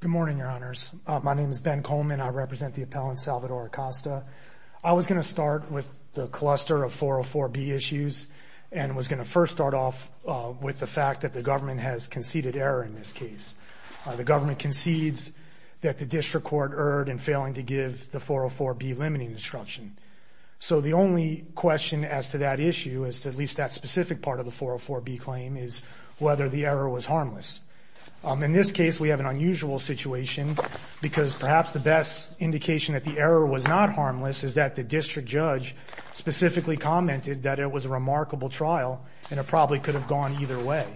Good morning, your honors. My name is Ben Coleman. I represent the appellant, Salvador Acosta. I was going to start with the cluster of 404B issues and was going to first start off with the fact that the government has conceded error in this case. The government concedes that the district court erred in failing to give the 404B limiting instruction. So the only question as to that issue, at least that specific part of the 404B claim, is whether or not the district court has conceded error in this case. Whether the error was harmless. In this case, we have an unusual situation because perhaps the best indication that the error was not harmless is that the district judge specifically commented that it was a remarkable trial and it probably could have gone either way.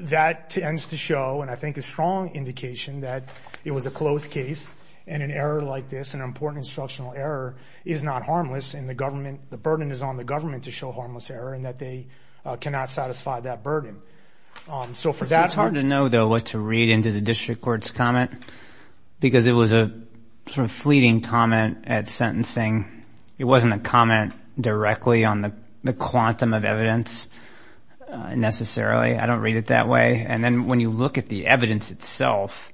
That tends to show, and I think a strong indication, that it was a closed case and an error like this, an important instructional error, is not harmless and the burden is on the government to show harmless error and that they cannot satisfy that burden. It's hard to know, though, what to read into the district court's comment because it was a fleeting comment at sentencing. It wasn't a comment directly on the quantum of evidence necessarily. I don't read it that way. When you look at the evidence itself,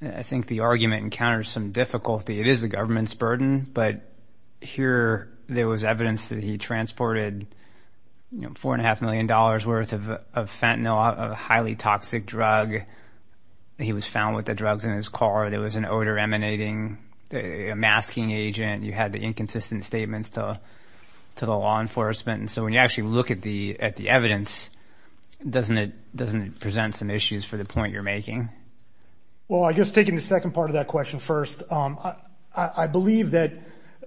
I think the argument encounters some difficulty. It is the government's burden, but here there was evidence that he transported $4.5 million worth of fentanyl, a highly toxic drug. He was found with the drugs in his car. There was an odor emanating, a masking agent. You had the inconsistent statements to the law enforcement. So when you actually look at the evidence, doesn't it present some issues for the point you're making? Well, I guess taking the second part of that question first, I believe that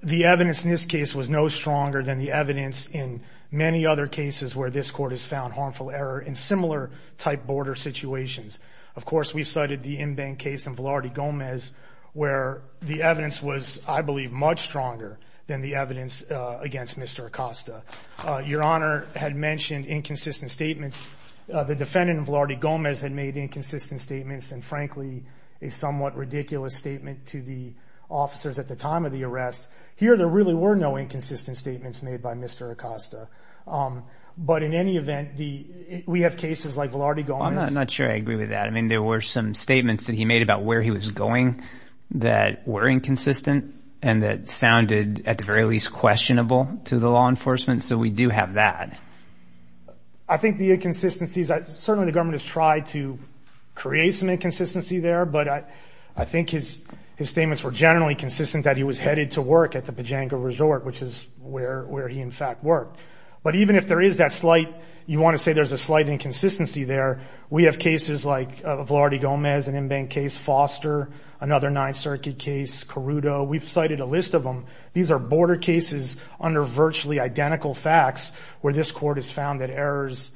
the evidence in this case was no stronger than the evidence in many other cases where this court has found harmful error in similar type border situations. Of course, we've cited the in-bank case in Velarde Gomez where the evidence was, I believe, much stronger than the evidence against Mr. Acosta. Your Honor had mentioned inconsistent statements. The defendant in Velarde Gomez had made inconsistent statements and frankly a somewhat ridiculous statement to the officers at the time of the arrest. Here there really were no inconsistent statements made by Mr. Acosta. But in any event, we have cases like Velarde Gomez. I'm not sure I agree with that. I mean there were some statements that he made about where he was going that were inconsistent and that sounded at the very least questionable to the law enforcement. So we do have that. I think the inconsistencies, certainly the government has tried to create some inconsistency there, but I think his statements were generally consistent that he was headed to work at the Pajango Resort, which is where he in fact worked. But even if there is that slight, you want to say there's a slight inconsistency there, we have cases like Velarde Gomez, an in-bank case, Foster, another Ninth Circuit case, Carudo. We've cited a list of them. These are border cases under virtually identical facts where this court has found that errors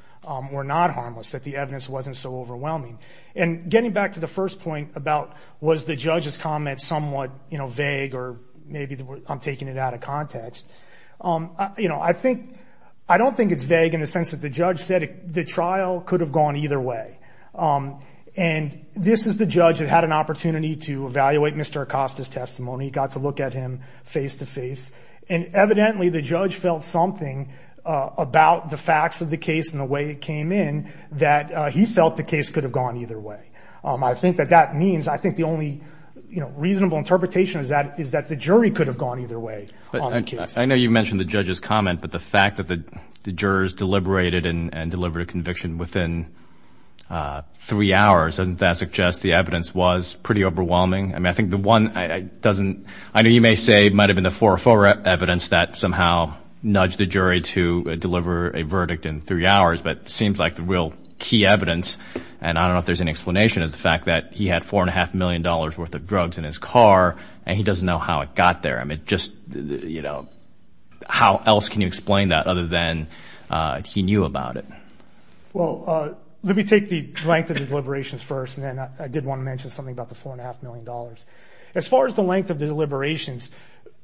were not harmless, that the evidence wasn't so overwhelming. And getting back to the first point about was the judge's comment somewhat vague or maybe I'm taking it out of context, I don't think it's vague in the sense that the judge said the trial could have gone either way. And this is the judge that had an opportunity to evaluate Mr. Acosta's testimony, got to look at him face-to-face, and evidently the judge felt something about the facts of the case and the way it came in that he felt the case could have gone either way. I think that that means, I think the only reasonable interpretation is that the jury could have gone either way on the case. I know you mentioned the judge's comment, but the fact that the jurors deliberated and delivered a conviction within three hours, doesn't that suggest the evidence was pretty overwhelming? I mean, I think the one, I know you may say it might have been the 4-4 evidence that somehow nudged the jury to deliver a verdict in three hours, but it seems like the real key evidence, and I don't know if there's any explanation, is the fact that he had $4.5 million worth of drugs in his car and he doesn't know how it got there. I mean, just, you know, how else can you explain that other than he knew about it? Well, let me take the length of the deliberations first, and then I did want to mention something about the $4.5 million. As far as the length of the deliberations,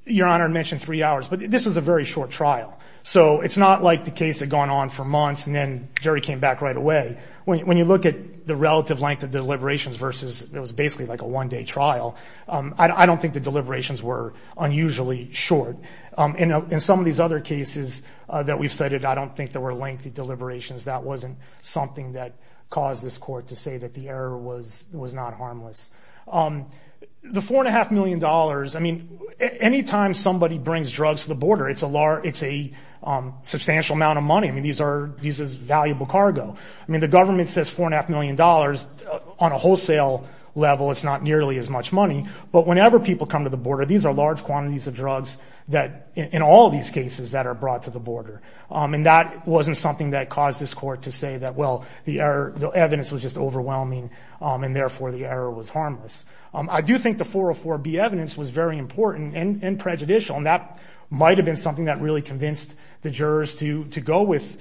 Your Honor mentioned three hours, but this was a very short trial. So it's not like the case had gone on for months and then jury came back right away. When you look at the relative length of deliberations versus, it was basically like a one-day trial, I don't think the deliberations were unusually short. In some of these other cases that we've cited, I don't think there were lengthy deliberations. That wasn't something that caused this court to say that the error was not harmless. The $4.5 million, I mean, any time somebody brings drugs to the border, it's a substantial amount of money. I mean, these are valuable cargo. I mean, the government says $4.5 million. On a wholesale level, it's not nearly as much money. But whenever people come to the border, these are large quantities of drugs that, in all these cases, that are brought to the border. And that wasn't something that caused this court to say that, well, the evidence was just overwhelming, and therefore the error was harmless. I do think the 404B evidence was very important and prejudicial, and that might have been something that really convinced the jurors to go with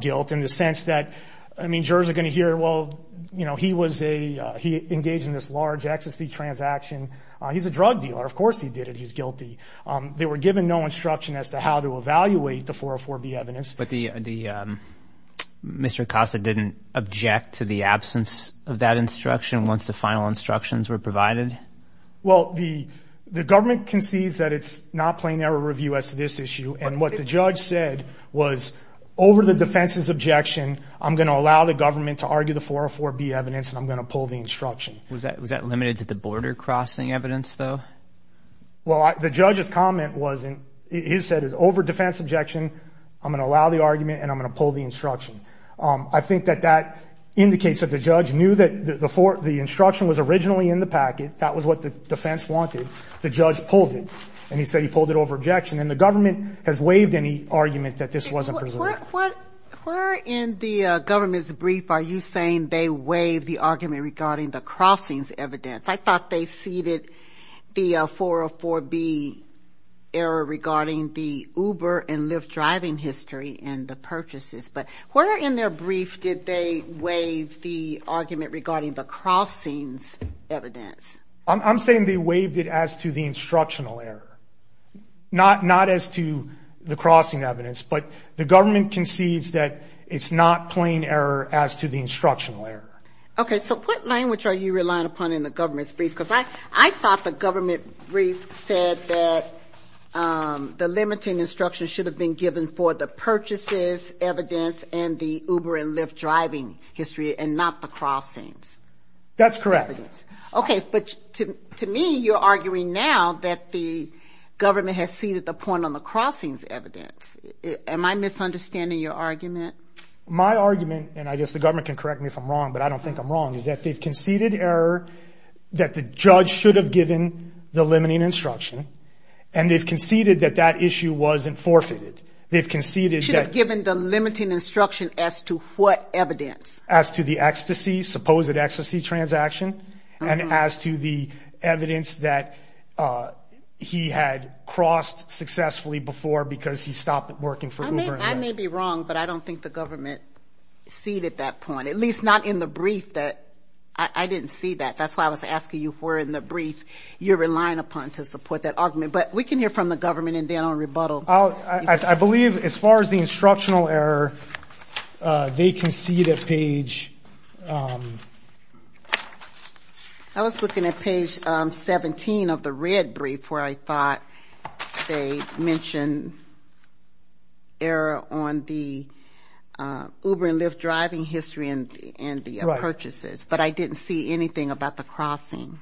guilt in the sense that, I mean, here, well, he engaged in this large ecstasy transaction. He's a drug dealer. Of course he did it. He's guilty. They were given no instruction as to how to evaluate the 404B evidence. But Mr. Acosta didn't object to the absence of that instruction once the final instructions were provided? Well, the government concedes that it's not playing error review as to this issue, and what the judge said was, over the defense's objection, I'm going to allow the government to argue the 404B evidence, and I'm going to pull the instruction. Was that limited to the border-crossing evidence, though? Well, the judge's comment wasn't. He said, over defense objection, I'm going to allow the argument, and I'm going to pull the instruction. I think that that indicates that the judge knew that the instruction was originally in the packet. That was what the defense wanted. The judge pulled it, and he said he pulled it over objection. And the government has waived any argument that this wasn't preserved. Where in the government's brief are you saying they waived the argument regarding the crossings evidence? I thought they ceded the 404B error regarding the Uber and Lyft driving history and the purchases. But where in their brief did they waive the argument regarding the crossings evidence? I'm saying they waived it as to the instructional error, not as to the crossing evidence. But the government concedes that it's not plain error as to the instructional error. Okay. So what language are you relying upon in the government's brief? Because I thought the government brief said that the limiting instruction should have been given for the purchases, evidence, and the Uber and Lyft driving history and not the crossings. That's correct. Okay. But to me, you're arguing now that the government has ceded the point on the crossings evidence. Am I misunderstanding your argument? My argument, and I guess the government can correct me if I'm wrong, but I don't think I'm wrong, is that they've conceded error that the judge should have given the limiting instruction, and they've conceded that that issue wasn't forfeited. They've conceded that. Should have given the limiting instruction as to what evidence? As to the ecstasy, supposed ecstasy transaction, and as to the evidence that he had crossed successfully before because he stopped working for Uber and Lyft. I may be wrong, but I don't think the government ceded that point, at least not in the brief. I didn't see that. That's why I was asking you if it were in the brief you're relying upon to support that argument. But we can hear from the government and then I'll rebuttal. I believe as far as the instructional error, they concede at page. I was looking at page 17 of the red brief where I thought they mentioned error on the Uber and Lyft driving history and the purchases, but I didn't see anything about the crossing.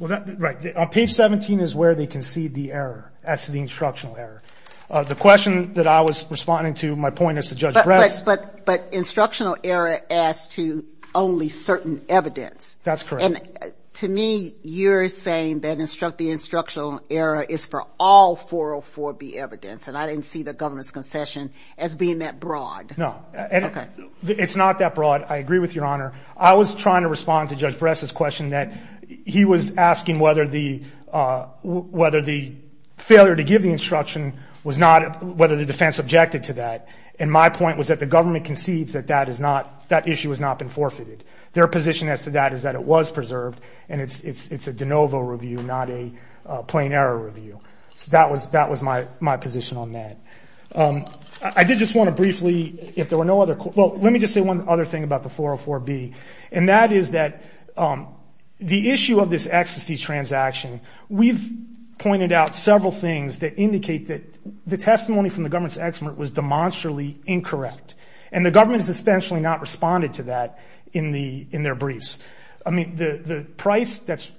Right. Page 17 is where they concede the error as to the instructional error. The question that I was responding to, my point is to Judge Bress. But instructional error as to only certain evidence. That's correct. To me, you're saying that the instructional error is for all 404B evidence, and I didn't see the government's concession as being that broad. No. Okay. It's not that broad. I agree with Your Honor. I was trying to respond to Judge Bress's question that he was asking whether the failure to give the instruction was not whether the defense objected to that. And my point was that the government concedes that that issue has not been forfeited. Their position as to that is that it was preserved, and it's a de novo review, not a plain error review. So that was my position on that. I did just want to briefly, if there were no other questions. Well, let me just say one other thing about the 404B. And that is that the issue of this ecstasy transaction, we've pointed out several things that indicate that the testimony from the government's expert was demonstrably incorrect. And the government has essentially not responded to that in their briefs. I mean, the price that's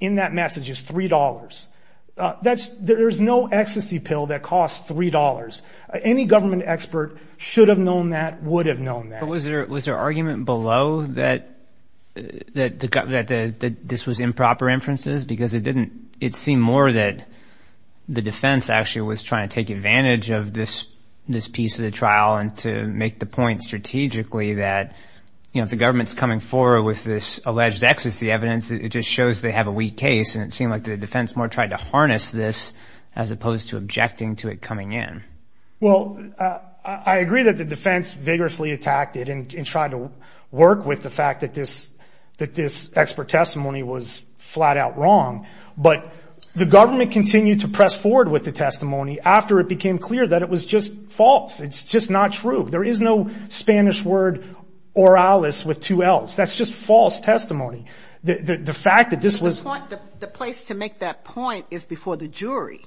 in that message is $3. There's no ecstasy pill that costs $3. Any government expert should have known that, would have known that. But was there argument below that this was improper inferences? Because it seemed more that the defense actually was trying to take advantage of this piece of the trial and to make the point strategically that, you know, if the government's coming forward with this alleged ecstasy evidence, it just shows they have a weak case. And it seemed like the defense more tried to harness this as opposed to objecting to it coming in. Well, I agree that the defense vigorously attacked it and tried to work with the fact that this expert testimony was flat out wrong. But the government continued to press forward with the testimony after it became clear that it was just false. It's just not true. There is no Spanish word oralis with two Ls. That's just false testimony. The fact that this was. But the point, the place to make that point is before the jury.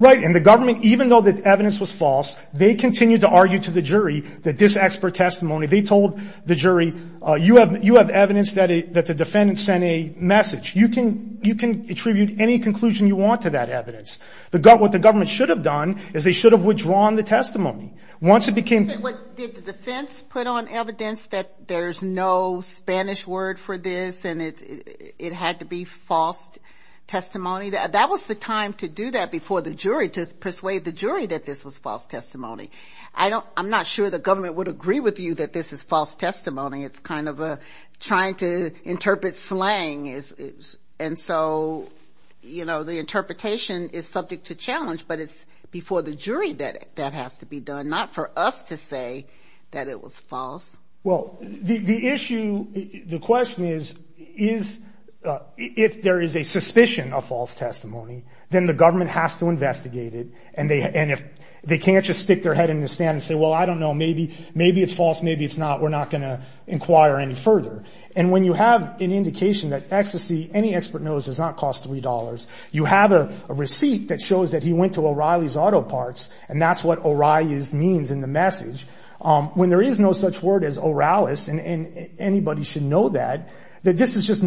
Right. And the government, even though the evidence was false, they continued to argue to the jury that this expert testimony, they told the jury, you have evidence that the defendant sent a message. You can attribute any conclusion you want to that evidence. What the government should have done is they should have withdrawn the testimony. Once it became. Did the defense put on evidence that there's no Spanish word for this and it had to be false testimony? That was the time to do that before the jury, to persuade the jury that this was false testimony. I'm not sure the government would agree with you that this is false testimony. It's kind of trying to interpret slang. And so, you know, the interpretation is subject to challenge, but it's before the jury that that has to be done, not for us to say that it was false. Well, the issue, the question is, is if there is a suspicion of false testimony, then the government has to investigate it. And they and if they can't just stick their head in the sand and say, well, I don't know, maybe, maybe it's false. Maybe it's not. We're not going to inquire any further. And when you have an indication that ecstasy, any expert knows does not cost three dollars. You have a receipt that shows that he went to O'Reilly's Auto Parts, and that's what O'Reilly's means in the message. When there is no such word as Oralis, and anybody should know that, that this is just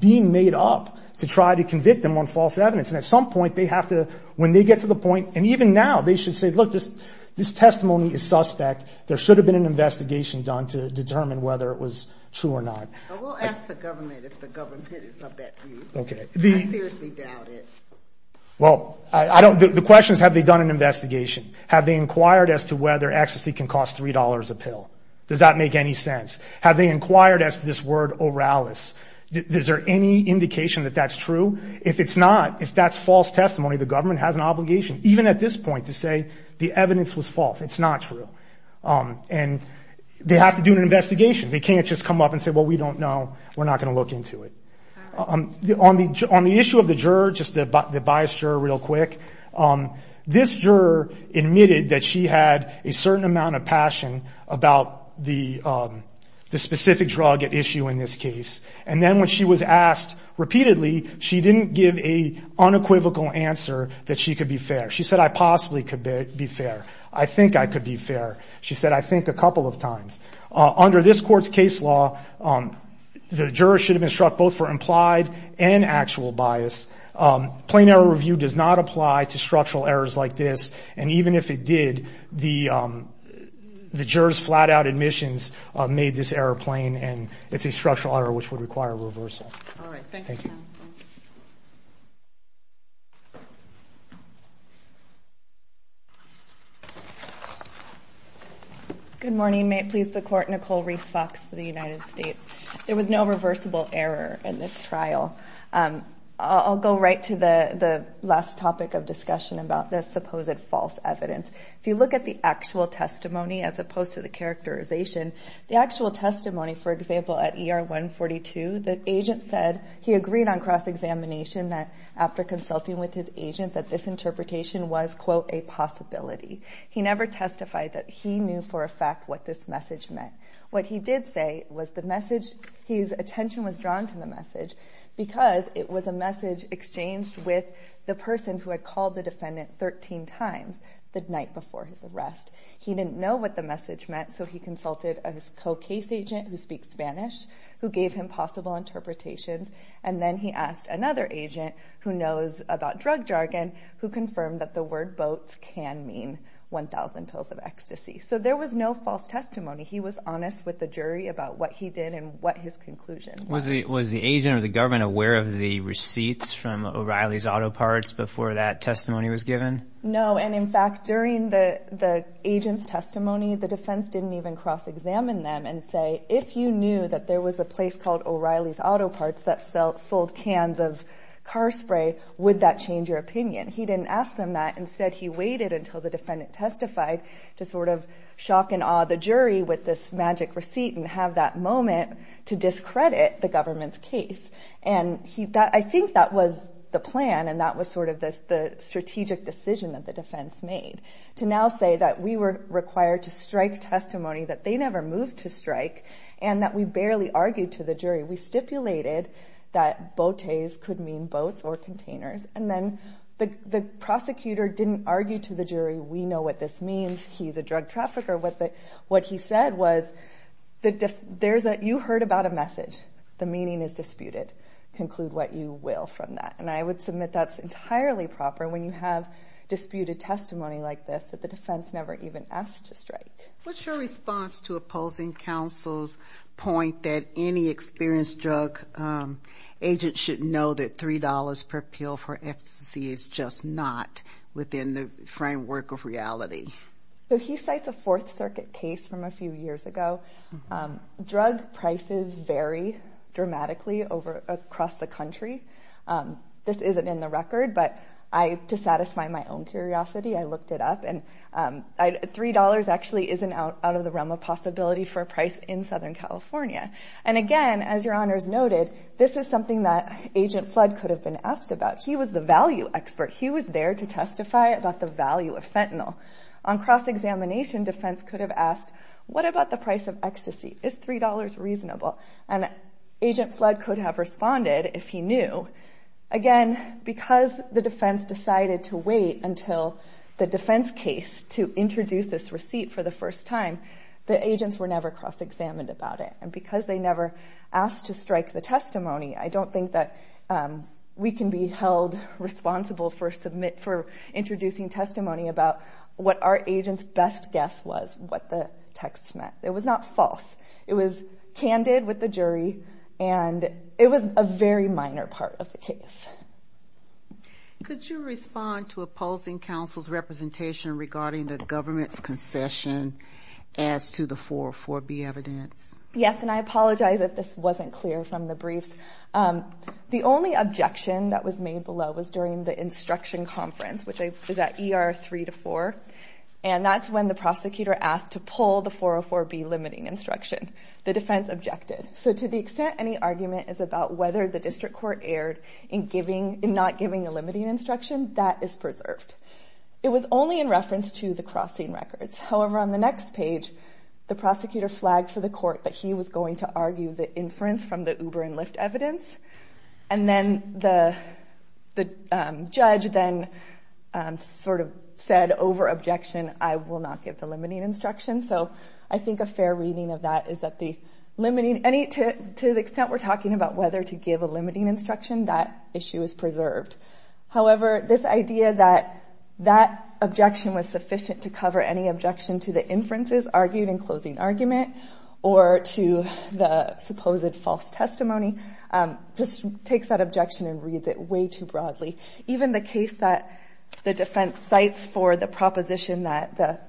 being made up to try to convict them on false evidence. And at some point, they have to, when they get to the point, and even now, they should say, look, this testimony is suspect. There should have been an investigation done to determine whether it was true or not. We'll ask the government if the government is of that view. I seriously doubt it. Well, the question is, have they done an investigation? Have they inquired as to whether ecstasy can cost three dollars a pill? Does that make any sense? Have they inquired as to this word Oralis? Is there any indication that that's true? If it's not, if that's false testimony, the government has an obligation, even at this point, to say the evidence was false. It's not true. And they have to do an investigation. They can't just come up and say, well, we don't know. We're not going to look into it. On the issue of the juror, just the biased juror real quick, this juror admitted that she had a certain amount of passion about the specific drug at issue in this case. And then when she was asked repeatedly, she didn't give a unequivocal answer that she could be fair. She said, I possibly could be fair. I think I could be fair. She said, I think a couple of times. Under this court's case law, the juror should have been struck both for implied and actual bias. Plain error review does not apply to structural errors like this. And even if it did, the juror's flat-out admissions made this error plain, and it's a structural error which would require reversal. All right, thank you, counsel. Thank you. Good morning. May it please the Court, Nicole Reese Fox for the United States. There was no reversible error in this trial. I'll go right to the last topic of discussion about the supposed false evidence. If you look at the actual testimony as opposed to the characterization, the actual testimony, for example, at ER 142, the agent said he agreed on cross-examination that, after consulting with his agent, that this interpretation was, quote, a possibility. He never testified that he knew for a fact what this message meant. What he did say was the message, his attention was drawn to the message because it was a message exchanged with the person who had called the defendant 13 times the night before his arrest. He didn't know what the message meant, so he consulted a co-case agent who speaks Spanish who gave him possible interpretations, and then he asked another agent who knows about drug jargon who confirmed that the word boats can mean 1,000 pills of ecstasy. So there was no false testimony. He was honest with the jury about what he did and what his conclusion was. Was the agent or the government aware of the receipts from O'Reilly's auto parts before that testimony was given? No, and, in fact, during the agent's testimony, the defense didn't even cross-examine them and say, if you knew that there was a place called O'Reilly's Auto Parts that sold cans of car spray, would that change your opinion? He didn't ask them that. Instead, he waited until the defendant testified to sort of shock and awe the jury with this magic receipt and have that moment to discredit the government's case. And I think that was the plan, and that was sort of the strategic decision that the defense made, to now say that we were required to strike testimony that they never moved to strike and that we barely argued to the jury. We stipulated that botes could mean boats or containers, and then the prosecutor didn't argue to the jury, we know what this means, he's a drug trafficker. What he said was, you heard about a message. The meaning is disputed. Conclude what you will from that. And I would submit that's entirely proper when you have disputed testimony like this, that the defense never even asked to strike. What's your response to opposing counsel's point that any experienced drug agent should know that $3 per pill for ecstasy is just not within the framework of reality? He cites a Fourth Circuit case from a few years ago. Drug prices vary dramatically across the country. This isn't in the record, but to satisfy my own curiosity, I looked it up, and $3 actually isn't out of the realm of possibility for a price in Southern California. And again, as your honors noted, this is something that Agent Flood could have been asked about. He was the value expert. He was there to testify about the value of fentanyl. On cross-examination, defense could have asked, what about the price of ecstasy? Is $3 reasonable? And Agent Flood could have responded if he knew. Again, because the defense decided to wait until the defense case to introduce this receipt for the first time, the agents were never cross-examined about it. And because they never asked to strike the testimony, I don't think that we can be held responsible for introducing testimony about what our agent's best guess was, what the text meant. It was not false. It was candid with the jury, and it was a very minor part of the case. Could you respond to opposing counsel's representation regarding the government's concession as to the 404B evidence? Yes, and I apologize if this wasn't clear from the briefs. The only objection that was made below was during the instruction conference, which is at ER 3-4, and that's when the prosecutor asked to pull the 404B limiting instruction. The defense objected. So to the extent any argument is about whether the district court erred in not giving a limiting instruction, that is preserved. It was only in reference to the crossing records. However, on the next page, the prosecutor flagged for the court that he was going to argue the inference from the Uber and Lyft evidence, and then the judge then sort of said over objection, I will not give the limiting instruction. So I think a fair reading of that is that to the extent we're talking about whether to give a limiting instruction, that issue is preserved. However, this idea that that objection was sufficient to cover any objection to the inferences argued in closing argument or to the supposed false testimony just takes that objection and reads it way too broadly. Even the case that the defense cites for the proposition that the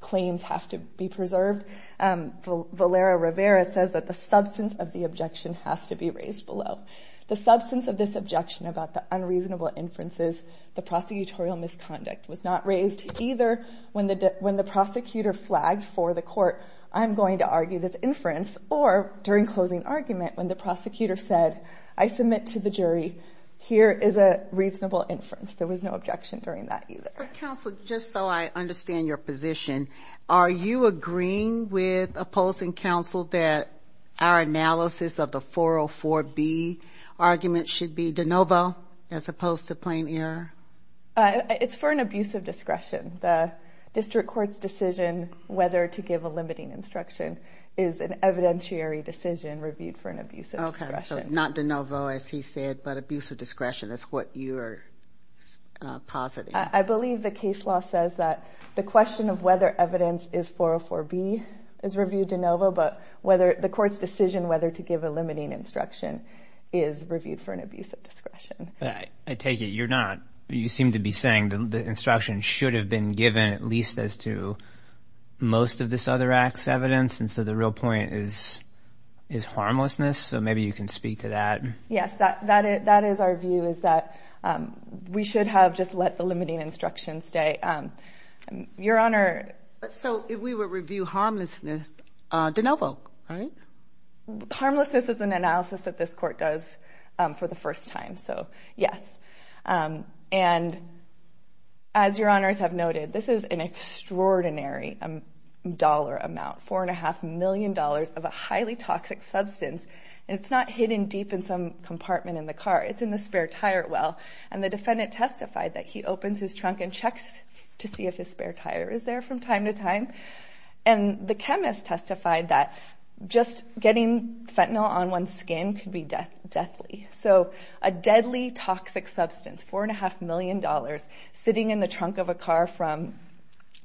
claims have to be preserved, Valera Rivera says that the substance of the objection has to be raised below. The substance of this objection about the unreasonable inferences, the prosecutorial misconduct, was not raised either when the prosecutor flagged for the court, I'm going to argue this inference, or during closing argument when the prosecutor said, I submit to the jury, here is a reasonable inference. There was no objection during that either. Counsel, just so I understand your position, are you agreeing with opposing counsel that our analysis of the 404B argument should be de novo as opposed to plain error? It's for an abuse of discretion. The district court's decision whether to give a limiting instruction is an evidentiary decision reviewed for an abuse of discretion. Okay, so not de novo, as he said, but abuse of discretion is what you're positing. I believe the case law says that the question of whether evidence is 404B is reviewed de novo, but the court's decision whether to give a limiting instruction is reviewed for an abuse of discretion. I take it you're not. You seem to be saying the instruction should have been given at least as to most of this other act's evidence, and so the real point is harmlessness, so maybe you can speak to that. Yes, that is our view, is that we should have just let the limiting instruction stay. Your Honor. So if we were to review harmlessness de novo, right? Harmlessness is an analysis that this court does for the first time, so yes. And as Your Honors have noted, this is an extraordinary dollar amount, $4.5 million of a highly toxic substance, and it's not hidden deep in some compartment in the car. It's in the spare tire well, and the defendant testified that he opens his trunk and checks to see if his spare tire is there from time to time, and the chemist testified that just getting fentanyl on one's skin could be deathly, so a deadly toxic substance, $4.5 million, sitting in the trunk of a car from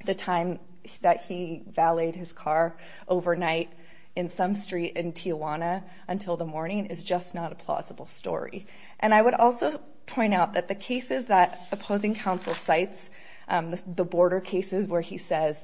the time that he valeted his car overnight in some street in Tijuana until the morning, is just not a plausible story, and I would also point out that the cases that opposing counsel cites, the border cases where he says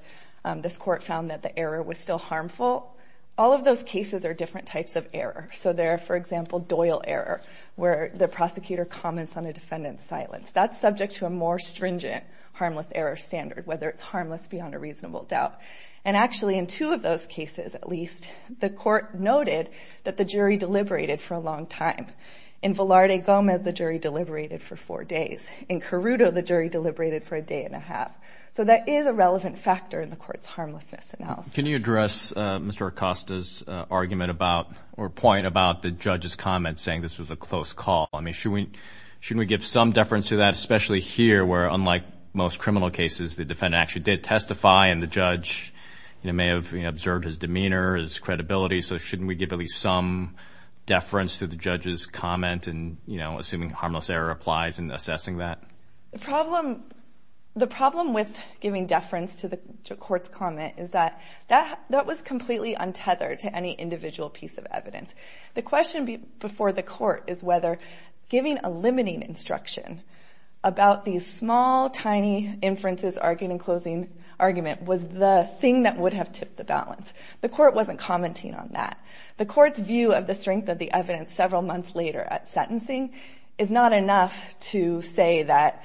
this court found that the error was still harmful, all of those cases are different types of error, so there are, for example, Doyle error, where the prosecutor comments on a defendant's silence. That's subject to a more stringent harmless error standard, whether it's harmless beyond a reasonable doubt, and actually in two of those cases, at least, the court noted that the jury deliberated for a long time. In Velarde Gomez, the jury deliberated for four days. In Carruto, the jury deliberated for a day and a half, so that is a relevant factor in the court's harmlessness analysis. Can you address Mr. Acosta's argument about or point about the judge's comment saying this was a close call? I mean, shouldn't we give some deference to that, especially here where, unlike most criminal cases, the defendant actually did testify and the judge may have observed his demeanor, his credibility, so shouldn't we give at least some deference to the judge's comment and, you know, assuming harmless error applies in assessing that? The problem with giving deference to the court's comment is that that was completely untethered to any individual piece of evidence. The question before the court is whether giving a limiting instruction about these small, tiny inferences, argument, and closing argument was the thing that would have tipped the balance. The court wasn't commenting on that. The court's view of the strength of the evidence several months later at sentencing is not enough to say that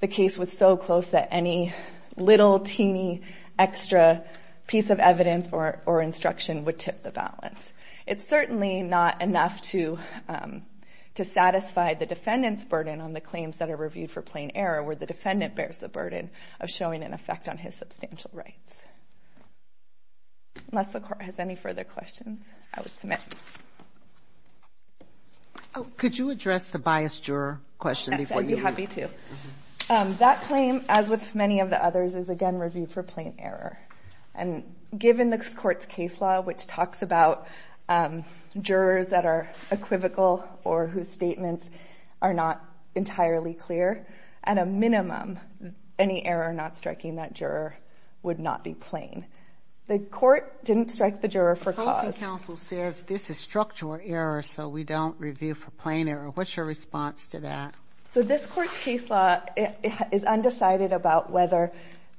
the case was so close that any little, teeny extra piece of evidence or instruction would tip the balance. It's certainly not enough to satisfy the defendant's burden on the claims that are reviewed for plain error where the defendant bears the burden of showing an effect on his substantial rights. Unless the court has any further questions, I would submit. Could you address the biased juror question before you leave? I'd be happy to. That claim, as with many of the others, is, again, reviewed for plain error. And given the court's case law, which talks about jurors that are equivocal or whose statements are not entirely clear, at a minimum, any error not striking that juror would not be plain. The court didn't strike the juror for cause. The policy council says this is structural error, so we don't review for plain error. What's your response to that? So this court's case law is undecided about whether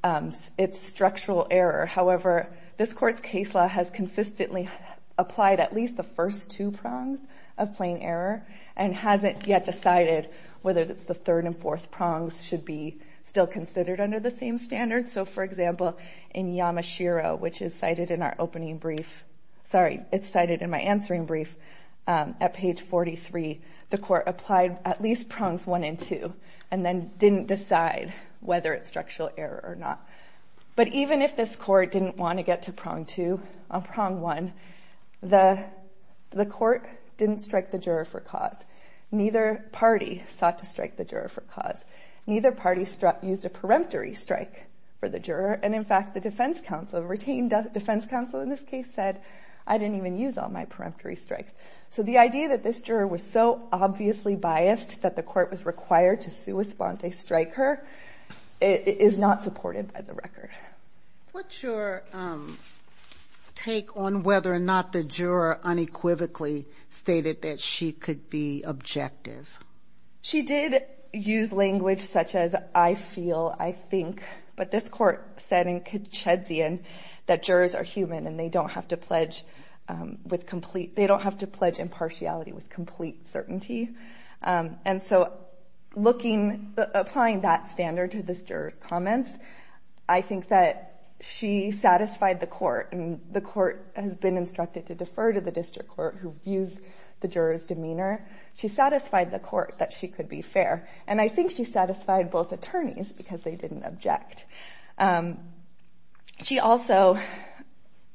it's structural error. However, this court's case law has consistently applied at least the first two prongs of plain error and hasn't yet decided whether it's the third and fourth prongs should be still considered under the same standards. So, for example, in Yamashiro, which is cited in our opening brief, sorry, it's cited in my answering brief at page 43, the court applied at least prongs one and two and then didn't decide whether it's structural error or not. But even if this court didn't want to get to prong two on prong one, the court didn't strike the juror for cause. Neither party sought to strike the juror for cause. Neither party used a peremptory strike for the juror. And, in fact, the defense counsel, the retained defense counsel in this case, said, I didn't even use all my peremptory strikes. So the idea that this juror was so obviously biased that the court was required to sua sponte strike her is not supported by the record. What's your take on whether or not the juror unequivocally stated that she could be objective? She did use language such as I feel, I think. But this court said in Katshedzian that jurors are human and they don't have to pledge with complete, they don't have to pledge impartiality with complete certainty. And so looking, applying that standard to this juror's comments, I think that she satisfied the court. And the court has been instructed to defer to the district court who views the juror's demeanor. She satisfied the court that she could be fair. And I think she satisfied both attorneys because they didn't object. She also,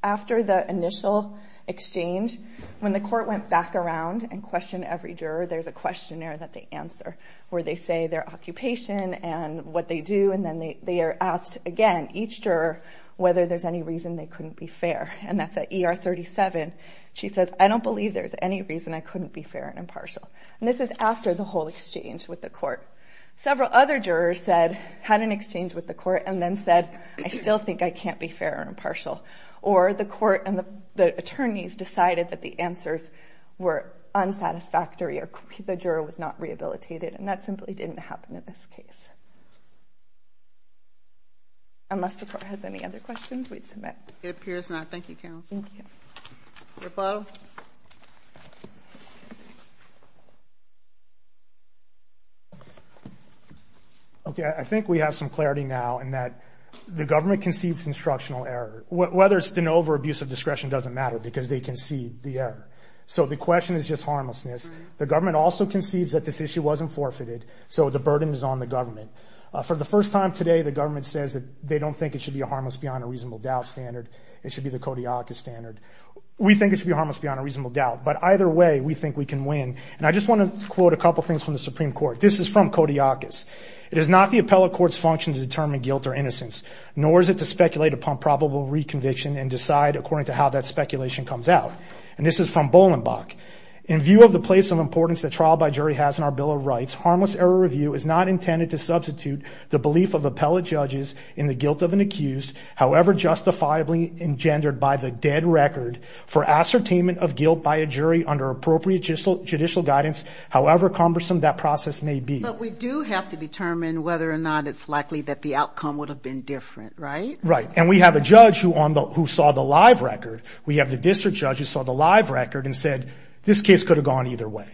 after the initial exchange, when the court went back around and questioned every juror, there's a questionnaire that they answer where they say their occupation and what they do. And then they are asked again, each juror, whether there's any reason they couldn't be fair. And that's at ER 37. She says, I don't believe there's any reason I couldn't be fair and impartial. And this is after the whole exchange with the court. Several other jurors said, had an exchange with the court and then said, I still think I can't be fair and impartial. Or the court and the attorneys decided that the answers were unsatisfactory or the juror was not rehabilitated. And that simply didn't happen in this case. Unless the court has any other questions, we'd submit. It appears not. Thank you, counsel. Thank you. I think we have some clarity now in that the government concedes instructional error. Whether it's de novo or abuse of discretion doesn't matter because they concede the error. So the question is just harmlessness. The government also concedes that this issue wasn't forfeited. So the burden is on the government. For the first time today, the government says that they don't think it should be harmless beyond a reasonable doubt standard. It should be the Kodiakus standard. We think it should be harmless beyond a reasonable doubt. But either way, we think we can win. And I just want to quote a couple things from the Supreme Court. This is from Kodiakus. It is not the appellate court's function to determine guilt or innocence, nor is it to speculate upon probable reconviction and decide according to how that speculation comes out. And this is from Bolenbach. In view of the place of importance that trial by jury has in our Bill of Rights, harmless error review is not intended to substitute the belief of appellate judges in the guilt of an accused, however justifiably engendered by the dead record, for ascertainment of guilt by a jury under appropriate judicial guidance, however cumbersome that process may be. But we do have to determine whether or not it's likely that the outcome would have been different, right? Right. And we have a judge who saw the live record. We have the district judge who saw the live record and said, this case could have gone either way.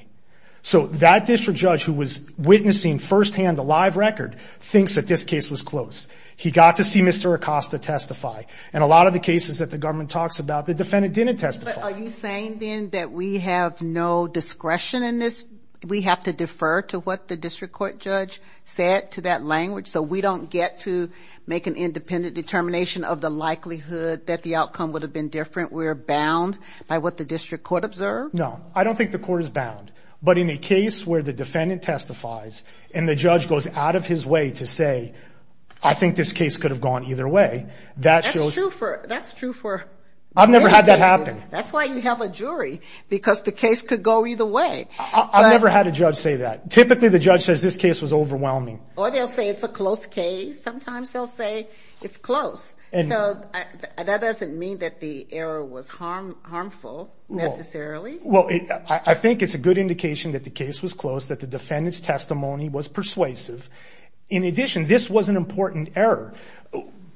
So that district judge who was witnessing firsthand the live record thinks that this case was close. He got to see Mr. Acosta testify. And a lot of the cases that the government talks about, the defendant didn't testify. But are you saying then that we have no discretion in this? We have to defer to what the district court judge said to that language so we don't get to make an independent determination of the likelihood that the outcome would have been different? We're bound by what the district court observed? No, I don't think the court is bound. But in a case where the defendant testifies and the judge goes out of his way to say, I think this case could have gone either way, that shows. That's true for... I've never had that happen. That's why you have a jury, because the case could go either way. I've never had a judge say that. Typically the judge says this case was overwhelming. Or they'll say it's a close case. Sometimes they'll say it's close. So that doesn't mean that the error was harmful necessarily? Well, I think it's a good indication that the case was close, that the defendant's testimony was persuasive. In addition, this was an important error.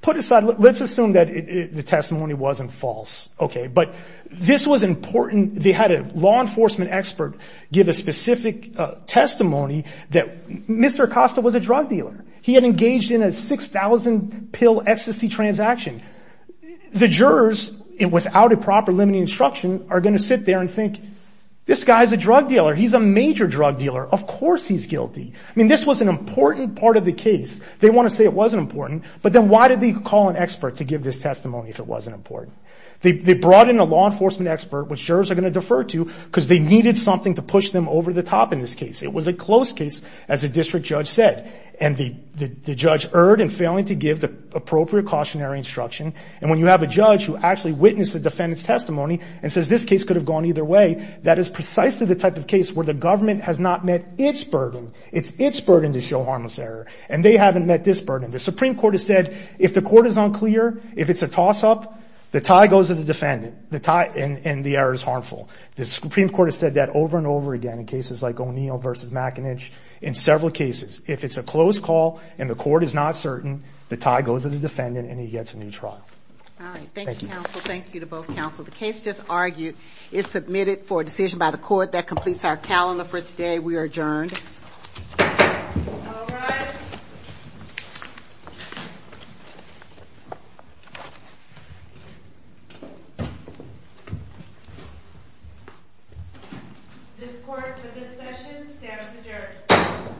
Put aside... Let's assume that the testimony wasn't false. But this was important... They had a law enforcement expert give a specific testimony that Mr. Acosta was a drug dealer. He had engaged in a 6,000 pill ecstasy transaction. The jurors, without a proper limiting instruction, are going to sit there and think, this guy's a drug dealer. He's a major drug dealer. Of course he's guilty. I mean, this was an important part of the case. They want to say it wasn't important. But then why did they call an expert to give this testimony if it wasn't important? They brought in a law enforcement expert, which jurors are going to defer to, because they needed something to push them over the top in this case. It was a close case, as the district judge said. And the judge erred in failing to give the appropriate cautionary instruction. And when you have a judge who actually witnessed the defendant's testimony and says this case could have gone either way, that is precisely the type of case where the government has not met its burden. It's its burden to show harmless error. And they haven't met this burden. The Supreme Court has said, if the court is unclear, if it's a toss-up, the tie goes to the defendant, and the error is harmful. The Supreme Court has said that over and over again in cases like O'Neill v. McAninch, in several cases, if it's a close call and the court is not certain, the tie goes to the defendant and he gets a new trial. All right, thank you, counsel. Thank you to both counsel. The case just argued is submitted for decision by the court. That completes our calendar for today. We are adjourned. All rise. This court for this session stands adjourned.